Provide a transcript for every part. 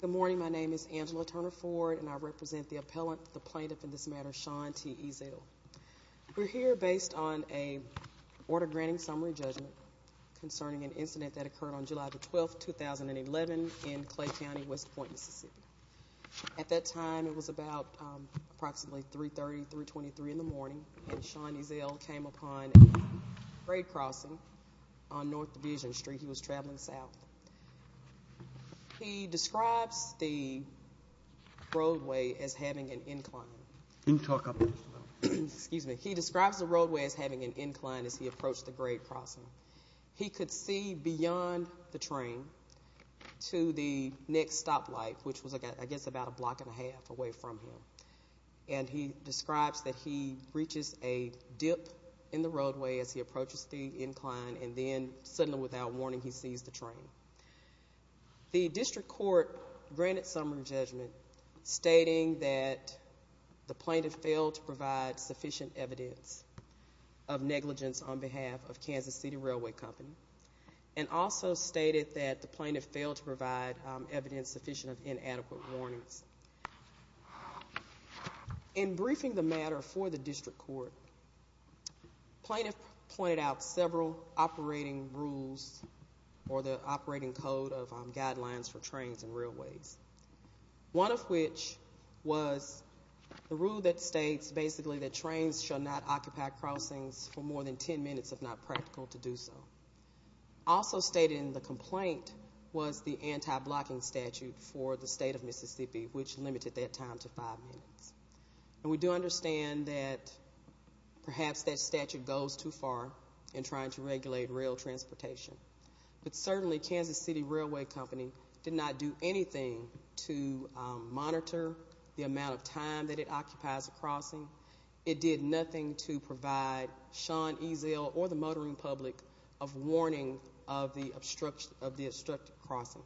Good morning, my name is Angela Turner Ford and I represent the appellant, the plaintiff in this matter, Sean T. Ezell. We're here based on an order granting summary judgment concerning an incident that occurred on July 12, 2011 in Clay County, West Point, Mississippi. At that time it was about approximately 3.30, 3.23 in the morning and Sean Ezell came upon a grade crossing on North Division Street, he was traveling south. He describes the roadway as having an incline as he approached the grade crossing. He could see beyond the train to the next stoplight which was I guess about a block and a half away from him and he describes that he reaches a dip in the roadway as he approaches the incline and then suddenly without warning he sees the train. The district court granted summary judgment stating that the plaintiff failed to provide sufficient evidence of negligence on behalf of Kansas City Railway Company and also stated that the plaintiff failed to provide evidence sufficient of inadequate warnings. In briefing the matter for the district court, plaintiff pointed out several operating rules or the operating code of guidelines for trains and railways, one of which was the rule that states basically that trains shall not occupy crossings for more than 10 minutes if not practical to do so. Also stated in the complaint was the anti-blocking statute for the state of Mississippi which limited that time to five minutes. We do understand that perhaps that statute goes too far in trying to regulate rail transportation but certainly Kansas City Railway Company did not do anything to monitor the amount of time that it occupies a crossing. It did nothing to provide Sean Eazell or the motoring public of warning of the obstruction of the obstructed crossing.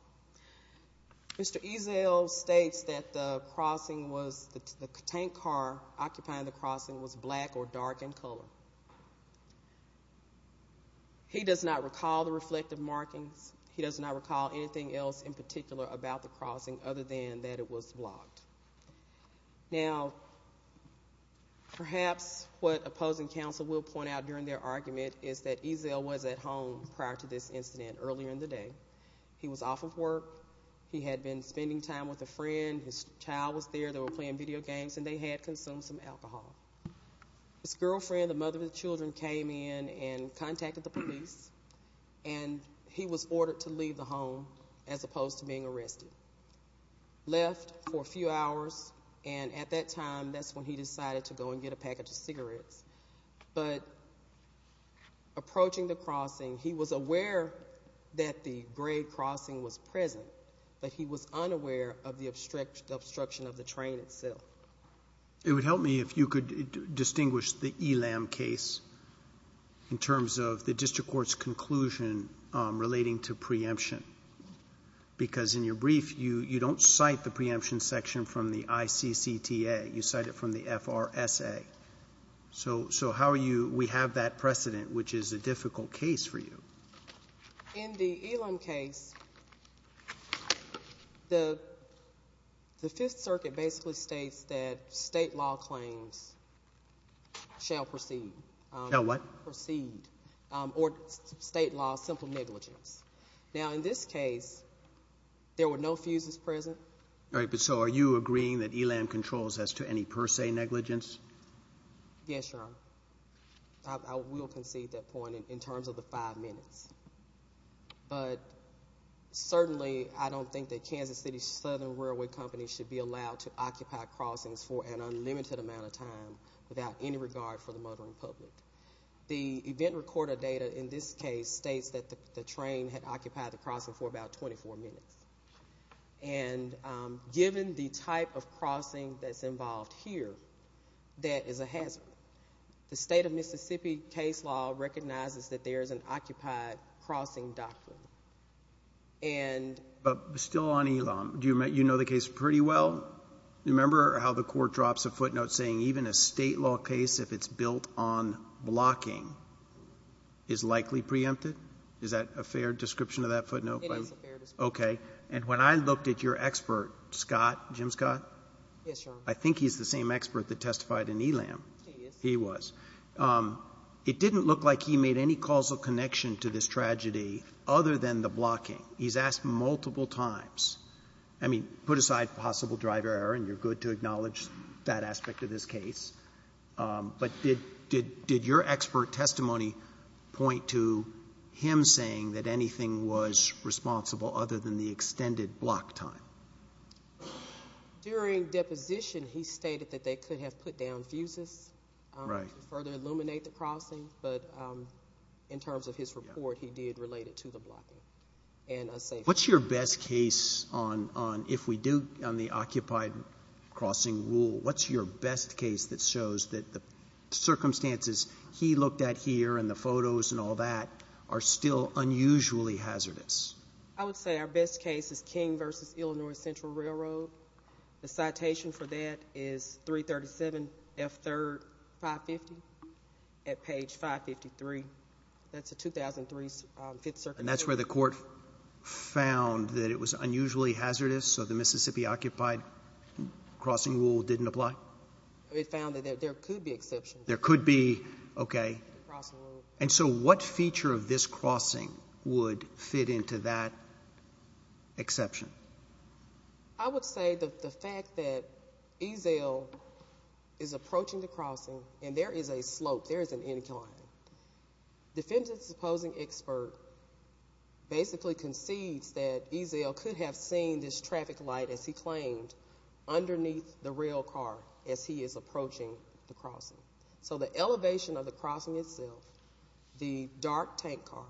Mr. Eazell states that the crossing was the tank car occupying the crossing was black or dark in color. He does not recall the reflective markings. He does not recall anything else in particular about the crossing other than that it was blocked. Now perhaps what opposing counsel will point out during their argument is that Eazell was at home prior to this incident earlier in the day. He was off of work. He had been spending time with a friend. His child was there. They were playing video games and they had consumed some alcohol. His girlfriend, the mother of the children came in and contacted the police and he was ordered to leave the home as opposed to being arrested. Left for a few hours and at that time, that's when he decided to go and get a package of cigarettes. Approaching the crossing, he was aware that the gray crossing was present but he was unaware of the obstruction of the train itself. It would help me if you could distinguish the Elam case in terms of the district court's conclusion relating to preemption because in your brief, you don't cite the preemption section from the ICCTA. You cite it from the FRSA. So how are you? We have that precedent which is a difficult case for you. In the Elam case, the Fifth Circuit basically states that state law claims shall proceed. Shall what? Shall not proceed or state law, simple negligence. Now, in this case, there were no fuses present. All right. But so are you agreeing that Elam controls as to any per se negligence? Yes, Your Honor. I will concede that point in terms of the five minutes but certainly, I don't think that Kansas City Southern Railway Company should be allowed to occupy crossings for an unlimited amount of time without any regard for the motoring public. The event recorder data in this case states that the train had occupied the crossing for about 24 minutes and given the type of crossing that's involved here, that is a hazard. The state of Mississippi case law recognizes that there is an occupied crossing doctrine and... But still on Elam, do you know the case pretty well? No. Remember how the Court drops a footnote saying even a state law case, if it's built on blocking, is likely preempted? Is that a fair description of that footnote? It is a fair description. Okay. And when I looked at your expert, Scott, Jim Scott... Yes, Your Honor. I think he's the same expert that testified in Elam. He is. He was. It didn't look like he made any causal connection to this tragedy other than the blocking. He's asked multiple times, I mean, put aside possible driver error and you're good to acknowledge that aspect of this case, but did your expert testimony point to him saying that anything was responsible other than the extended block time? During deposition, he stated that they could have put down fuses to further illuminate the crossing, but in terms of his report, he did relate it to the blocking and a safe... What's your best case on, if we do, on the occupied crossing rule? What's your best case that shows that the circumstances he looked at here and the photos and all that are still unusually hazardous? I would say our best case is King v. Illinois Central Railroad. The citation for that is 337 F. 3rd 550 at page 553. That's a 2003 Fifth Circuit... And that's where the court found that it was unusually hazardous, so the Mississippi occupied crossing rule didn't apply? It found that there could be exceptions. There could be, okay. And so what feature of this crossing would fit into that exception? I would say that the fact that Ezell is approaching the crossing and there is a slope, there is an incline, the defendant's opposing expert basically concedes that Ezell could have seen this traffic light, as he claimed, underneath the rail car as he is approaching the crossing. So the elevation of the crossing itself, the dark tank car,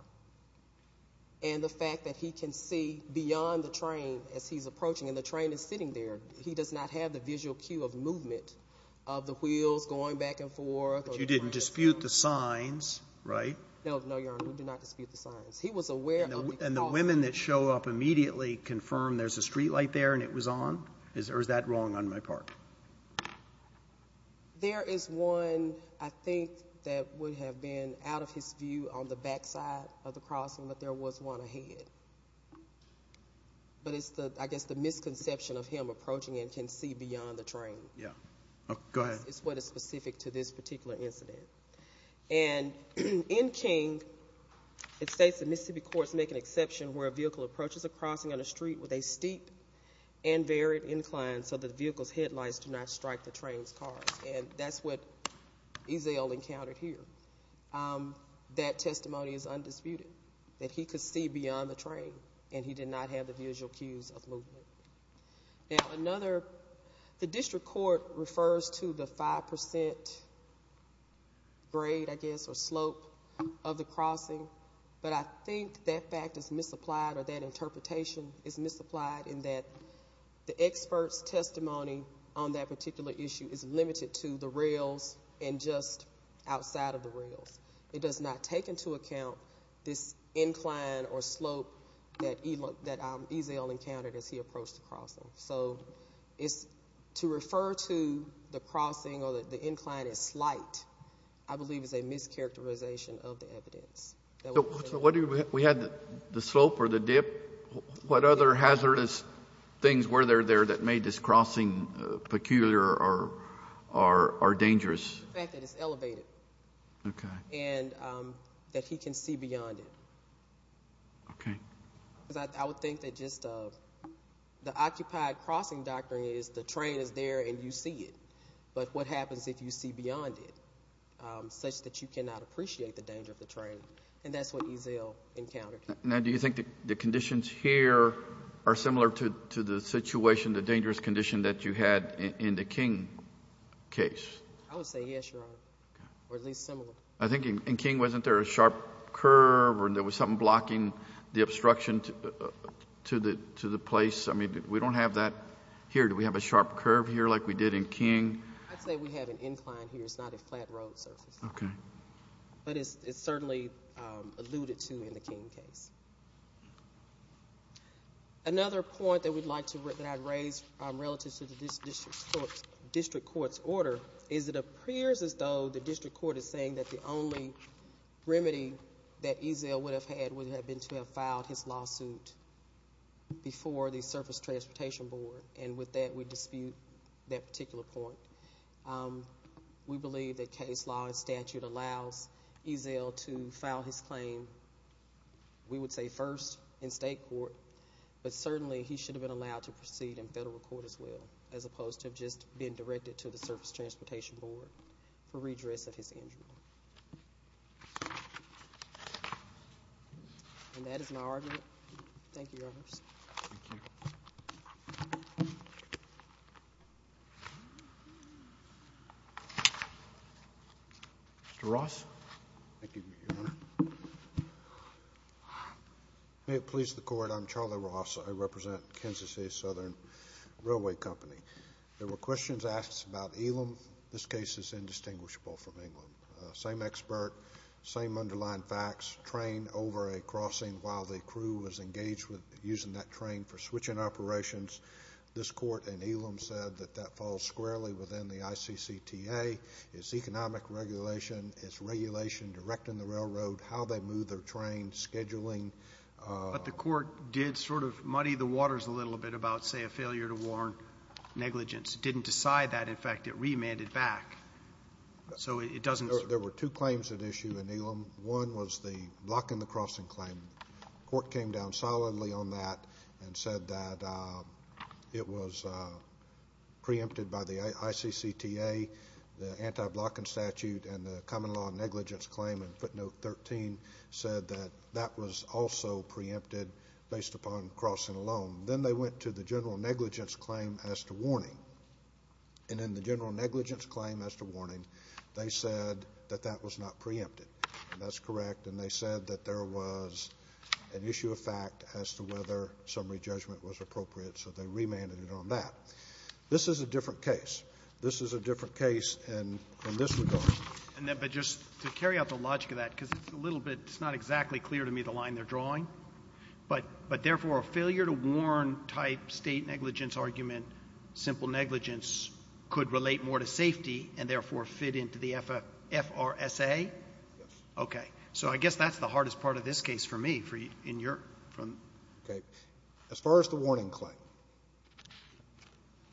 and the fact that he can see beyond the train as he's approaching, and the train is sitting there, he does not have the visual cue of movement of the wheels going back and forth... But you didn't dispute the signs, right? No, Your Honor. We did not dispute the signs. He was aware of the crossing. And the women that show up immediately confirm there's a street light there and it was on? Or is that wrong on my part? There is one, I think, that would have been out of his view on the backside of the crossing, but there was one ahead. But it's, I guess, the misconception of him approaching and can see beyond the train. Yeah. Go ahead. It's what is specific to this particular incident. And in King, it states the Mississippi courts make an exception where a vehicle approaches a crossing on a street with a steep and varied incline so that the vehicle's headlights do not strike the train's cars, and that's what Ezell encountered here. That testimony is undisputed, that he could see beyond the train and he did not have the visual cues of movement. Now, another... the district court refers to the 5 percent grade, I guess, or slope of the crossing, but I think that fact is misapplied or that interpretation is misapplied in that the expert's testimony on that particular issue is limited to the rails and just outside of the rails. It does not take into account this incline or slope that Ezell encountered as he approached the crossing. So, to refer to the crossing or the incline as slight, I believe is a mischaracterization of the evidence. So, what do you... we had the slope or the dip. What other hazardous things were there there that made this crossing peculiar or dangerous? The fact that it's elevated and that he can see beyond it. I would think that just the occupied crossing doctrine is the train is there and you see it, but what happens if you see beyond it, such that you cannot appreciate the danger of the train, and that's what Ezell encountered here. Now, do you think the conditions here are similar to the situation, the dangerous condition that you had in the King case? I would say, yes, Your Honor, or at least similar. I think in King, wasn't there a sharp curve or there was something blocking the obstruction to the place? I mean, we don't have that here. Do we have a sharp curve here like we did in King? I'd say we have an incline here. It's not a flat road surface. Okay. But it's certainly alluded to in the King case. Another point that I'd like to raise relative to the district court's order is it appears as though the district court is saying that the only remedy that Ezell would have had would have been to have filed his lawsuit before the Surface Transportation Board, and with that, we dispute that particular point. We believe that case law and statute allows Ezell to file his claim. We would say first in state court, but certainly, he should have been allowed to proceed in federal court as well, as opposed to just being directed to the Surface Transportation Board for redress of his injury, and that is my argument. Thank you, Your Honor. Thank you. Mr. Ross. Thank you, Your Honor. May it please the Court, I'm Charlie Ross. I represent the Kansas City Southern Railway Company. There were questions asked about Elam. This case is indistinguishable from England. Same expert, same underlying facts, train over a crossing while the crew was engaged with using that train for switching operations. This Court in Elam said that that falls squarely within the ICCTA. It's economic regulation, it's regulation directing the railroad, how they move their train, scheduling. But the Court did sort of muddy the waters a little bit about, say, a failure to warn negligence. It didn't decide that. In fact, it remanded back. So it doesn't... There were two claims at issue in Elam. One was the blocking the crossing claim. The Court came down solidly on that and said that it was preempted by the ICCTA, the anti-blocking statute, and the common law negligence claim in footnote 13 said that that was also preempted based upon crossing alone. Then they went to the general negligence claim as to warning, and in the general negligence claim as to warning, they said that that was not preempted, and that's correct, and they said that there was an issue of fact as to whether summary judgment was appropriate, so they remanded it on that. This is a different case. This is a different case in this regard. And then, but just to carry out the logic of that, because it's a little bit, it's not exactly clear to me the line they're drawing, but therefore a failure to warn type State negligence argument, simple negligence, could relate more to safety and therefore fit into the FRSA? Yes. Okay. Okay. So I guess that's the hardest part of this case for me, for you, in your, from. Okay. As far as the warning claim,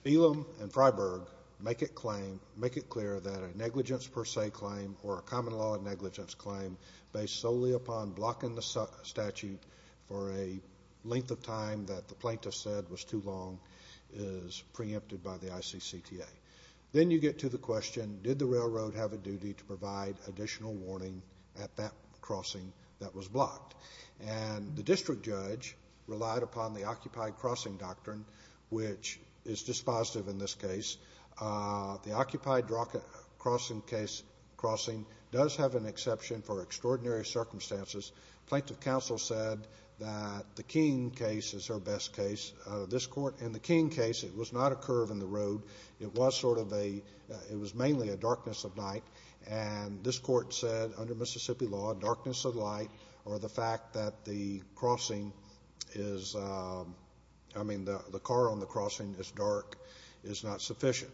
Elam and Freiberg make it clear that a negligence per se claim or a common law negligence claim based solely upon blocking the statute for a length of time that the plaintiff said was too long is preempted by the ICCTA. Then you get to the question, did the railroad have a duty to provide additional warning at that crossing that was blocked? And the district judge relied upon the occupied crossing doctrine, which is dispositive in this case. The occupied crossing case, crossing does have an exception for extraordinary circumstances. Plaintiff counsel said that the Keene case is her best case. This court, in the Keene case, it was not a curve in the road. It was sort of a, it was mainly a darkness of night. And this court said under Mississippi law, darkness of light or the fact that the crossing is, I mean, the car on the crossing is dark is not sufficient.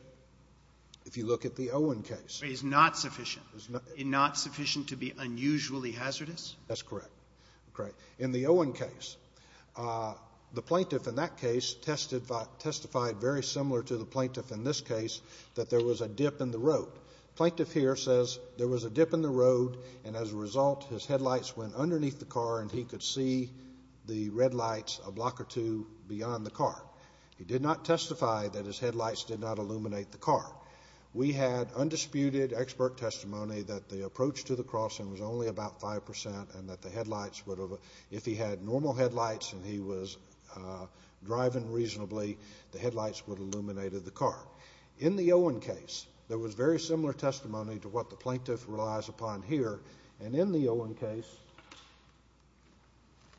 If you look at the Owen case. Is not sufficient. Is not. Is not sufficient to be unusually hazardous? That's correct. Okay. In the Owen case, the plaintiff in that case testified very similar to the plaintiff in this case that there was a dip in the road. Plaintiff here says there was a dip in the road. And as a result, his headlights went underneath the car and he could see the red lights a block or two beyond the car. He did not testify that his headlights did not illuminate the car. We had undisputed expert testimony that the approach to the crossing was only about 5% and that the headlights would have, if he had normal headlights and he was driving reasonably, the headlights would illuminate the car. In the Owen case, there was very similar testimony to what the plaintiff relies upon here. And in the Owen case.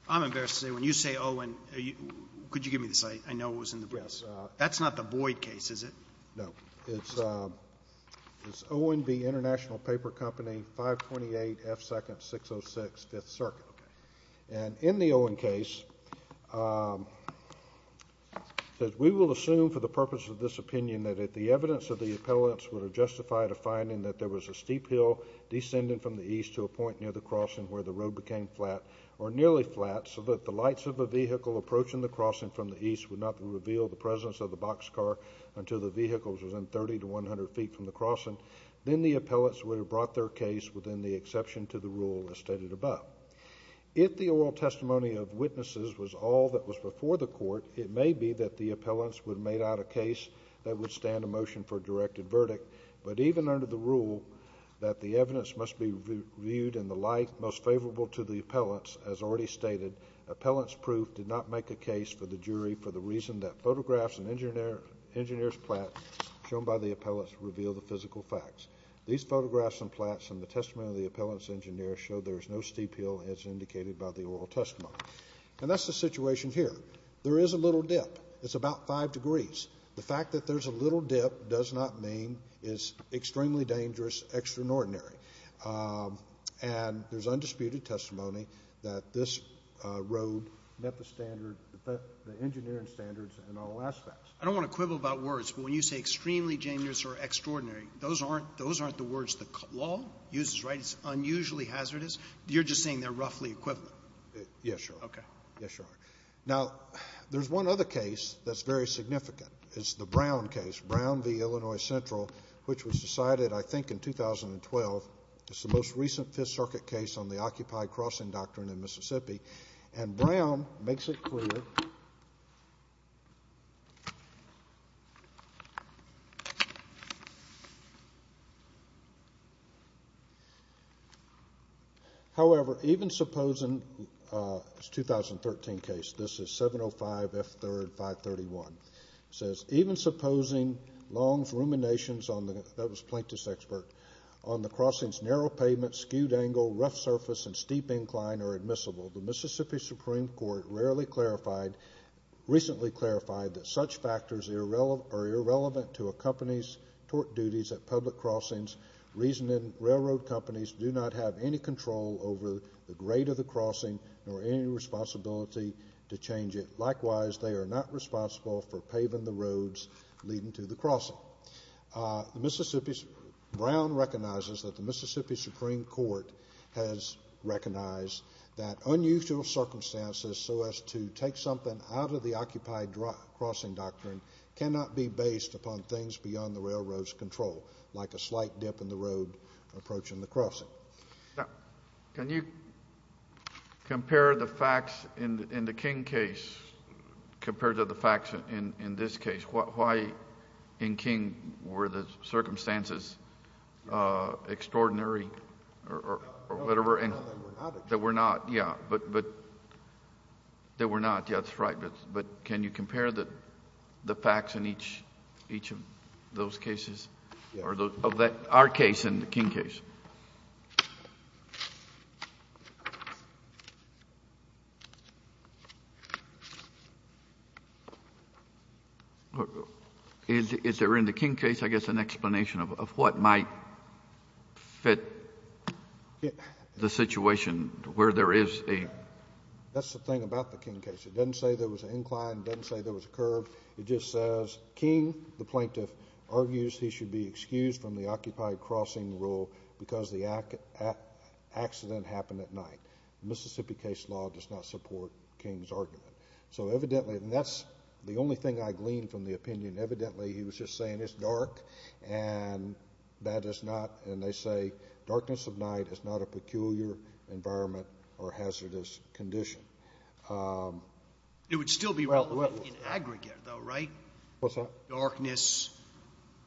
I'm embarrassed to say, when you say Owen, could you give me the site? I know it was in the briefs. Yes. That's not the Boyd case, is it? No. It's Owen v. International Paper Company, 528 F. 2nd, 606 Fifth Circuit. And in the Owen case, it says, we will assume for the purpose of this opinion that if the evidence of the appellants would have justified a finding that there was a steep hill descending from the east to a point near the crossing where the road became flat or nearly flat so that the lights of a vehicle approaching the crossing from the east would not reveal the presence of the boxcar until the vehicle was within 30 to 100 feet from the crossing, then the appellants would have brought their case within the exception to the rule as stated above. If the oral testimony of witnesses was all that was before the court, it may be that the appellants would have made out a case that would stand a motion for a directed verdict. But even under the rule that the evidence must be viewed in the light most favorable to the appellants, as already stated, appellants' proof did not make a case for the jury for the reason that photographs and engineer's plats shown by the appellants reveal the physical facts. These photographs and plats and the testimony of the appellants' engineer show there is no steep hill as indicated by the oral testimony. And that's the situation here. There is a little dip. It's about five degrees. The fact that there's a little dip does not mean it's extremely dangerous, extraordinary. And there's undisputed testimony that this road met the standard, the engineering standards in all aspects. I don't want to quibble about words, but when you say extremely dangerous or extraordinary, those aren't the words the law uses, right? It's unusually hazardous. You're just saying they're roughly equivalent. Yes, Your Honor. Okay. Yes, Your Honor. Now, there's one other case that's very significant. It's the Brown case, Brown v. Illinois Central, which was decided, I think, in 2012. It's the most recent Fifth Circuit case on the Occupied Crossing Doctrine in Mississippi. And Brown makes it clear, however, even supposing, it's a 2013 case, this is 705 F. 3rd, 531. It says, even supposing Long's ruminations on the, that was Plaintiff's expert, on the crossing's narrow pavement, skewed angle, rough surface, and steep incline are admissible. The Mississippi Supreme Court rarely clarified, recently clarified that such factors are irrelevant to a company's tort duties at public crossings. Reasoning railroad companies do not have any control over the grade of the crossing nor any responsibility to change it. Likewise, they are not responsible for paving the roads leading to the crossing. So, Brown recognizes that the Mississippi Supreme Court has recognized that unusual circumstances so as to take something out of the Occupied Crossing Doctrine cannot be based upon things beyond the railroad's control, like a slight dip in the road approaching the crossing. Now, can you compare the facts in the King case compared to the facts in this case? Why, in King, were the circumstances extraordinary or whatever... No, they were not extraordinary. They were not, yeah, but... they were not, yeah, that's right, but can you compare the facts in each of those cases, or of our case and the King case? Is there in the King case, I guess, an explanation of what might fit the situation where there is a... That's the thing about the King case. It doesn't say there was an incline. It doesn't say there was a curve. It just says, King, the plaintiff, argues he should be excused from the Occupied Crossing rule because the accident happened at night. The Mississippi case law does not support King's argument. So evidently, and that's the only thing I gleaned from the opinion, evidently he was just saying it's dark and that is not... and they say darkness of night is not a peculiar environment or hazardous condition. It would still be relevant in aggregate, though, right? What's that? Darkness,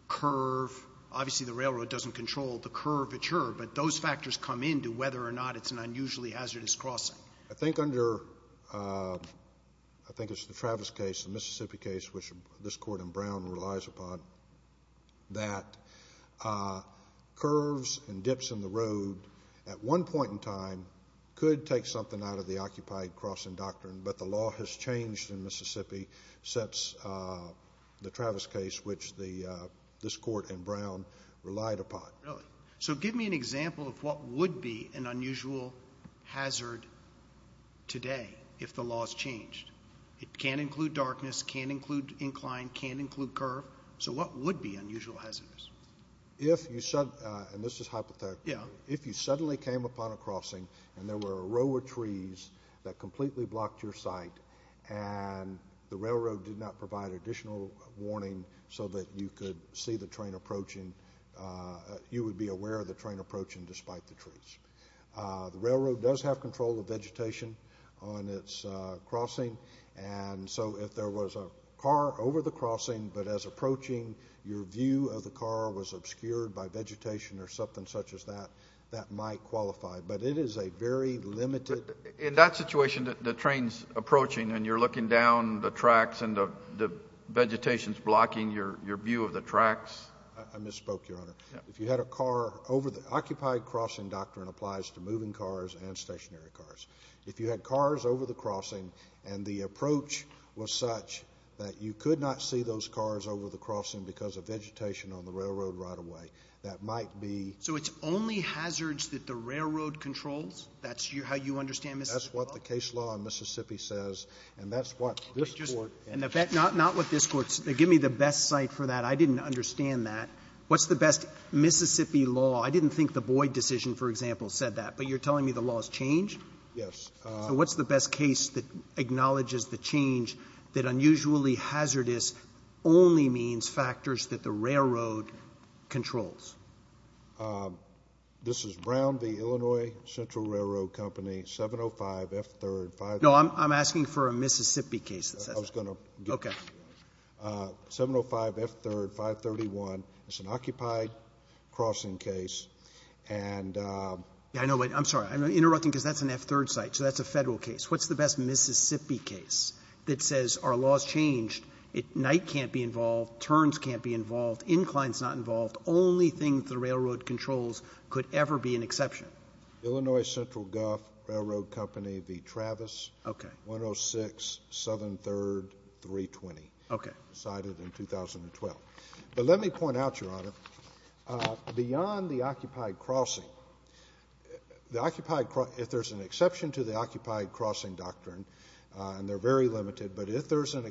curve. Obviously, the railroad doesn't control the curvature, but those factors come into whether or not it's an unusually hazardous crossing. I think under... I think it's the Travis case, the Mississippi case, which this Court in Brown relies upon, that curves and dips in the road at one point in time could take something out of the Occupied Crossing doctrine, but the law has changed in Mississippi since the Travis case, which this Court in Brown relied upon. Really? So give me an example of what would be an unusual hazard today if the law's changed. It can include darkness, can include incline, can include curve. So what would be unusual hazardous? If you suddenly... and this is hypothetical. If you suddenly came upon a crossing and there were a row of trees that completely blocked your sight and the railroad did not provide additional warning so that you could see the train approaching, you would be aware of the train approaching despite the trees. The railroad does have control of vegetation on its crossing, and so if there was a car over the crossing, but as approaching, your view of the car was obscured by vegetation or something such as that, that might qualify, but it is a very limited... In that situation, the train's approaching and you're looking down the tracks and the vegetation's blocking your view of the tracks. I misspoke, Your Honor. If you had a car over the... Occupied Crossing doctrine applies to moving cars and stationary cars. If you had cars over the crossing and the approach was such that you could not see those cars over the crossing because of vegetation on the railroad right away, that might be... So it's only hazards that the railroad controls? That's how you understand Mississippi law? That's what the case law in Mississippi says, and that's what this Court... And not what this Court... Give me the best site for that. I didn't understand that. What's the best Mississippi law? I didn't think the Boyd decision, for example, said that, but you're telling me the laws change? Yes. So what's the best case that acknowledges the change that unusually hazardous only means factors that the railroad controls? This is Brown v. Illinois Central Railroad Company, 705 F3rd... No, I'm asking for a Mississippi case that says that. I was going to... Okay. 705 F3rd, 531. It's an occupied crossing case, and... I know, but I'm sorry. I'm interrupting because that's an F3rd site, so that's a Federal case. What's the best Mississippi case that says our law's changed, night can't be involved, turns can't be involved, inclines not involved, only thing that the railroad controls could ever be an exception? Illinois Central Gulf Railroad Company v. Travis... Okay. 106 Southern 3rd, 320. Okay. Decided in 2012. But let me point out, Your Honor, beyond the occupied crossing, the occupied... if there's an exception to the occupied crossing doctrine, and they're very limited, but if there's an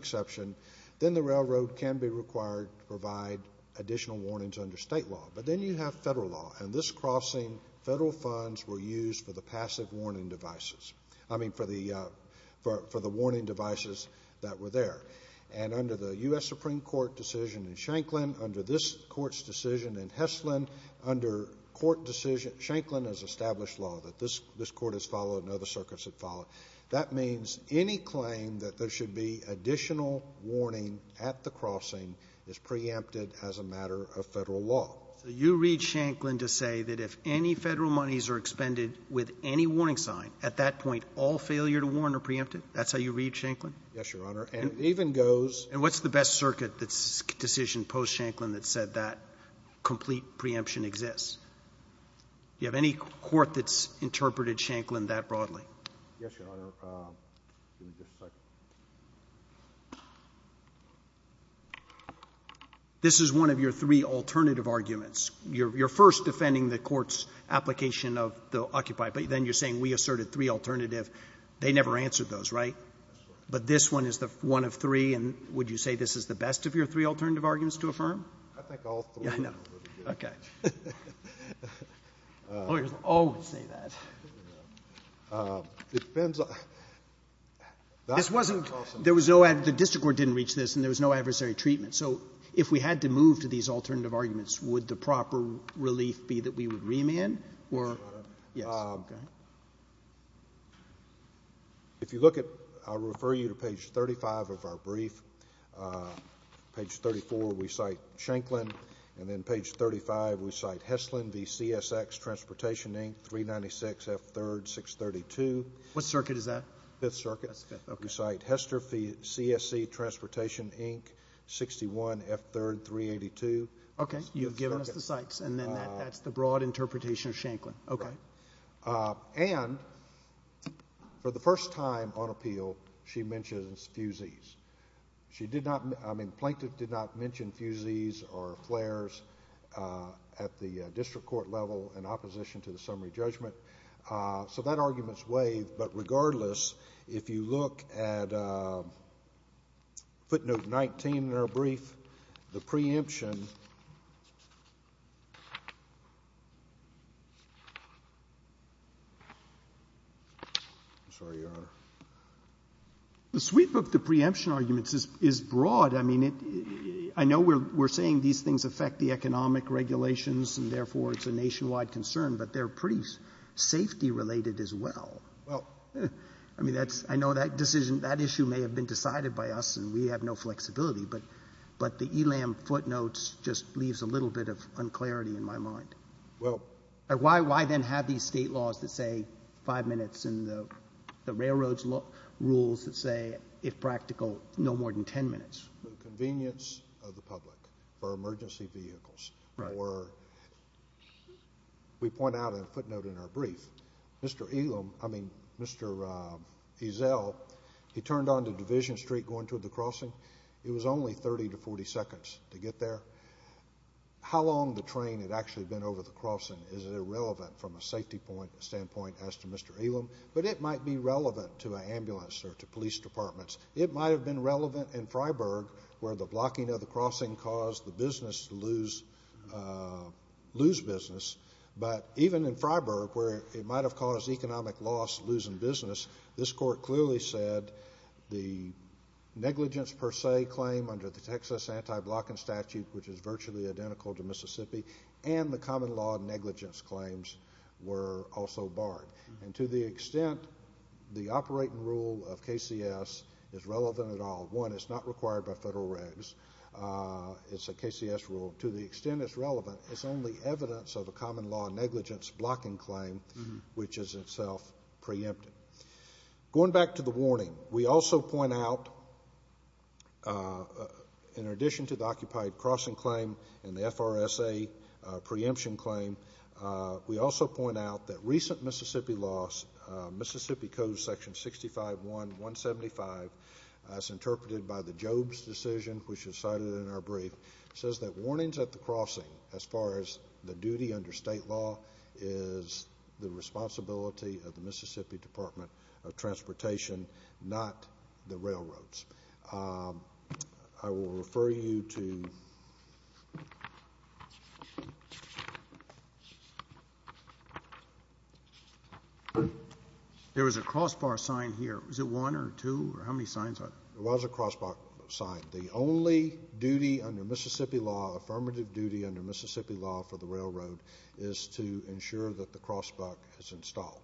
additional warnings under state law. But then you have Federal law, and this crossing, Federal funds were used for the passive warning devices. I mean, for the warning devices that were there. And under the U.S. Supreme Court decision in Shanklin, under this Court's decision in Heslin, under Court decision... Shanklin has established law that this Court has followed and other circuits have followed. That means any claim that there should be additional warning at the crossing is preempted as a matter of Federal law. So you read Shanklin to say that if any Federal monies are expended with any warning sign, at that point, all failure to warn are preempted? That's how you read Shanklin? Yes, Your Honor. And it even goes... And what's the best circuit decision post-Shanklin that said that complete preemption exists? Do you have any court that's interpreted Shanklin that broadly? Yes, Your Honor. Give me just a second. This is one of your three alternative arguments. You're first defending the Court's application of the Occupy, but then you're saying we asserted three alternative. They never answered those, right? But this one is the one of three, and would you say this is the best of your three alternative arguments to affirm? I think all three of them would be good. I know. Okay. Lawyers always say that. It depends on... This wasn't... The District Court didn't reach this, and there was no adversary treatment. So if we had to move to these alternative arguments, would the proper relief be that we would remand? Yes. Okay. If you look at... I'll refer you to page 35 of our brief. Page 34, we cite Shanklin. And then page 35, we cite Heslin v. CSX Transportation, Inc., 396 F. 3rd, 632. What circuit is that? Fifth Circuit. Fifth, okay. We cite Hester v. CSC Transportation, Inc., 61 F. 3rd, 382. Okay. You've given us the cites, and then that's the broad interpretation of Shanklin. Okay. And for the first time on appeal, she mentions fusees. She did not... I mean, Plaintiff did not mention fusees or flares at the District Court level in opposition to the summary judgment. So that argument's waived. But regardless, if you look at footnote 19 in our brief, the preemption... I'm sorry, Your Honor. The sweep of the preemption arguments is broad. I mean, I know we're saying these things affect the economic regulations, and therefore, it's a nationwide concern. But they're pretty safety-related as well. Well... I mean, that's... I know that decision... that issue may have been decided by us, and we have no flexibility. But the ELAM footnotes just leaves a little bit of unclarity in my mind. Well... Why then have these state laws that say five minutes and the railroads rules that say, if practical, no more than ten minutes? For the convenience of the public, for emergency vehicles. Right. Or we point out in footnote in our brief, Mr. ELAM... I mean, Mr. Ezel, he turned onto Division Street going toward the crossing. It was only 30 to 40 seconds to get there. How long the train had actually been over the crossing is irrelevant from a safety standpoint as to Mr. ELAM. But it might be relevant to an ambulance or to police departments. It might have been relevant in Freiburg, where the blocking of the crossing caused the business to lose business. But even in Freiburg, where it might have caused economic loss, losing business, this Court clearly said the negligence per se claim under the Texas Anti-Blocking Statute, which is virtually identical to Mississippi, and the common law negligence claims were also barred. And to the extent the operating rule of KCS is relevant at all, one, it's not required by federal regs. It's a KCS rule. To the extent it's relevant, it's only evidence of a common law negligence blocking claim, which is itself preemptive. Going back to the warning, we also point out, in addition to the occupied crossing claim and the FRSA preemption claim, we also point out that recent Mississippi laws, Mississippi Code Section 65.1.175, as interpreted by the Jobes decision, which is cited in our brief, says that warnings at the crossing, as far as the duty under state law, is the responsibility of the Mississippi Department of Transportation, not the railroads. I will refer you to ‑‑ There was a crossbar sign here. Was it one or two or how many signs? There was a crossbar sign. The only duty under Mississippi law, affirmative duty under Mississippi law for the railroad, is to ensure that the crossbar is installed.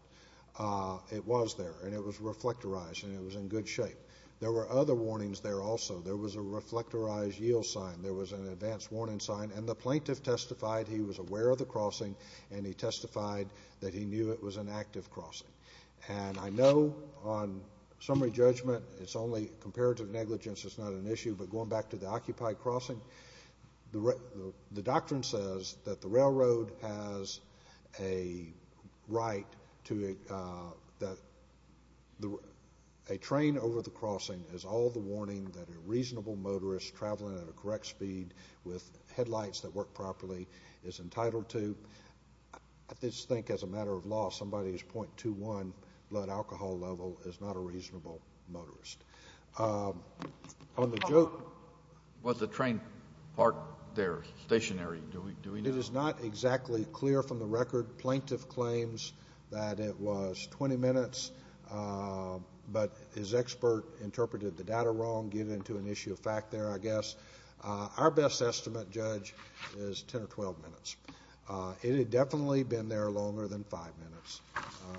It was there, and it was reflectorized, and it was in good shape. There were other warnings there also. There was a reflectorized yield sign. There was an advance warning sign, and the plaintiff testified he was aware of the crossing, and he testified that he knew it was an active crossing. I know on summary judgment, comparative negligence is not an issue, but going back to the occupied crossing, the doctrine says that a train over the crossing is all the warning that a reasonable motorist traveling at a correct speed with headlights that work properly is entitled to. I just think as a matter of law, somebody's .21 blood alcohol level is not a reasonable motorist. On the joke ‑‑ Was the train parked there stationary? Do we know? It is not exactly clear from the record. Plaintiff claims that it was 20 minutes, but his expert interpreted the data wrong, giving it to an issue of fact there, I guess. Our best estimate, Judge, is 10 or 12 minutes. It had definitely been there longer than five minutes,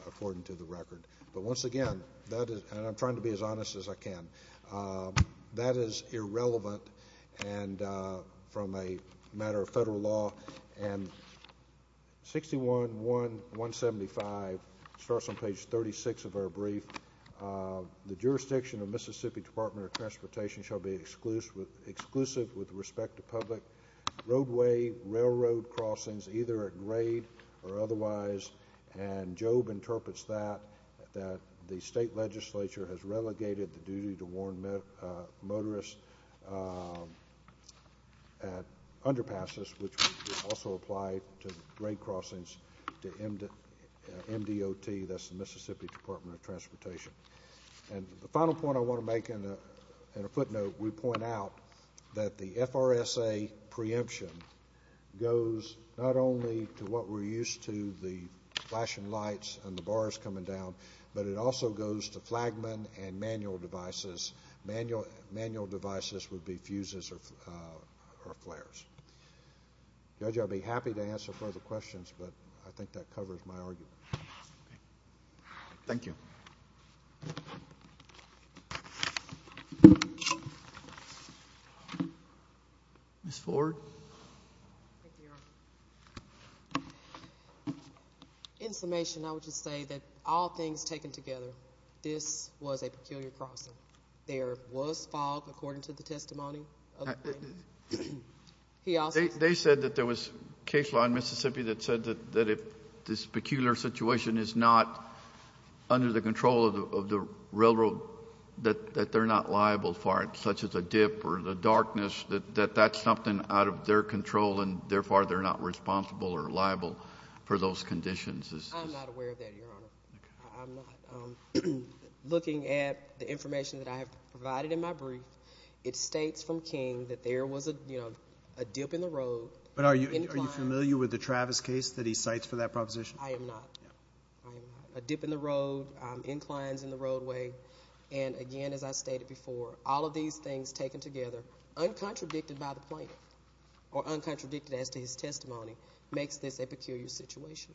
according to the record. But once again, and I'm trying to be as honest as I can, that is irrelevant from a matter of federal law. And 611.175 starts on page 36 of our brief. The jurisdiction of Mississippi Department of Transportation shall be exclusive with respect to public roadway, railroad crossings, either at grade or otherwise, and Job interprets that, that the state legislature has relegated the duty to warn motorists at underpasses, which also apply to grade crossings to MDOT. That's the Mississippi Department of Transportation. And the final point I want to make in a footnote, we point out that the FRSA preemption goes not only to what we're used to, the flashing lights and the bars coming down, but it also goes to flagman and manual devices. Manual devices would be fuses or flares. Judge, I'll be happy to answer further questions, but I think that covers my argument. Thank you. Ms. Ford? Thank you, Your Honor. In summation, I would just say that all things taken together, this was a peculiar crossing. There was fog, according to the testimony. They said that there was case law in Mississippi that said that if this peculiar situation is not under the control of the railroad, that they're not liable for it, such as a dip or the darkness, that that's something out of their control and therefore they're not responsible or liable for those conditions. I'm not aware of that, Your Honor. I'm not. Looking at the information that I have provided in my brief, it states from King that there was a dip in the road. But are you familiar with the Travis case that he cites for that proposition? I am not. A dip in the road, inclines in the roadway, and again, as I stated before, all of these things taken together, uncontradicted by the plaintiff or uncontradicted as to his testimony, makes this a peculiar situation.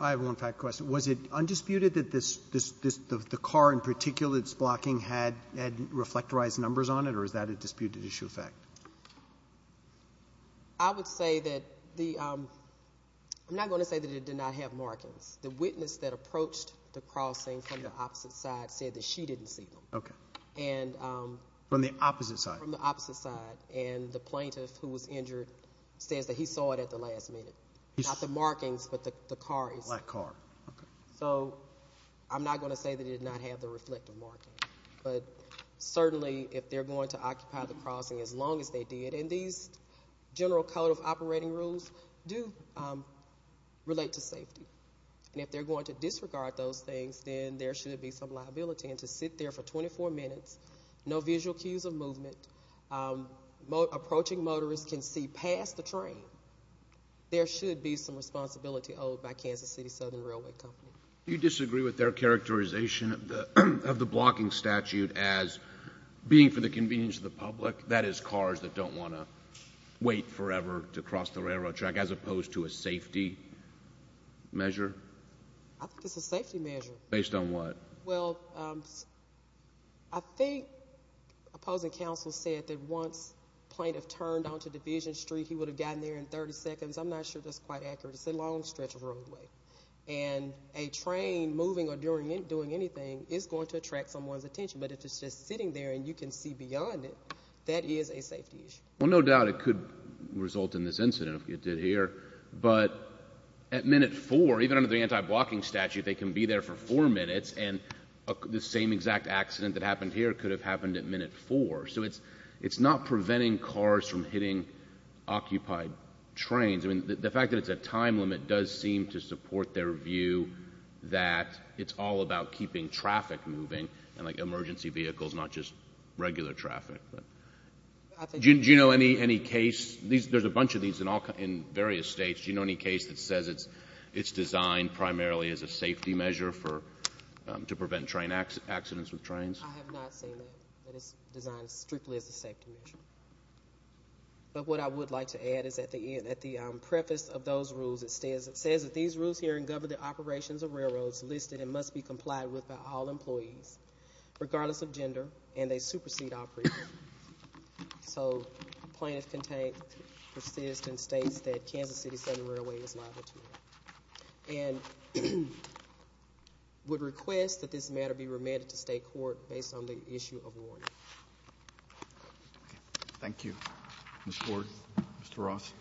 I have one fact question. Was it undisputed that the car in particular that's blocking had reflectorized numbers on it, or is that a disputed issue of fact? I would say that the—I'm not going to say that it did not have markings. The witness that approached the crossing from the opposite side said that she didn't see them. Okay. From the opposite side. From the opposite side, and the plaintiff who was injured says that he saw it at the last minute. Not the markings, but the car itself. The black car. Okay. So I'm not going to say that it did not have the reflective markings, but certainly if they're going to occupy the crossing as long as they did, and these general code of operating rules do relate to safety, and if they're going to disregard those things, then there should be some liability. And to sit there for 24 minutes, no visual cues of movement, approaching motorists can see past the train, there should be some responsibility owed by Kansas City Southern Railway Company. Do you disagree with their characterization of the blocking statute as being for the convenience of the public, that is cars that don't want to wait forever to cross the railroad track, as opposed to a safety measure? I think it's a safety measure. Based on what? Well, I think opposing counsel said that once the plaintiff turned onto Division Street, he would have gotten there in 30 seconds. I'm not sure that's quite accurate. It's a long stretch of roadway. And a train moving or doing anything is going to attract someone's attention. But if it's just sitting there and you can see beyond it, that is a safety issue. Well, no doubt it could result in this incident if it did here. But at minute four, even under the anti-blocking statute, they can be there for four minutes, and the same exact accident that happened here could have happened at minute four. So it's not preventing cars from hitting occupied trains. I mean, the fact that it's a time limit does seem to support their view that it's all about keeping traffic moving and, like, emergency vehicles, not just regular traffic. Do you know any case? There's a bunch of these in various states. Do you know any case that says it's designed primarily as a safety measure to prevent train accidents with trains? I have not seen that, that it's designed strictly as a safety measure. But what I would like to add is at the end, at the preface of those rules, it says that these rules here in government operations of railroads listed and must be complied with by all employees, regardless of gender, and they supersede operation. So plaintiff contained persists and states that Kansas City Southern Railway is liable to that and would request that this matter be remanded to state court based on the issue of warning. Thank you, Ms. Ford. Mr. Ross.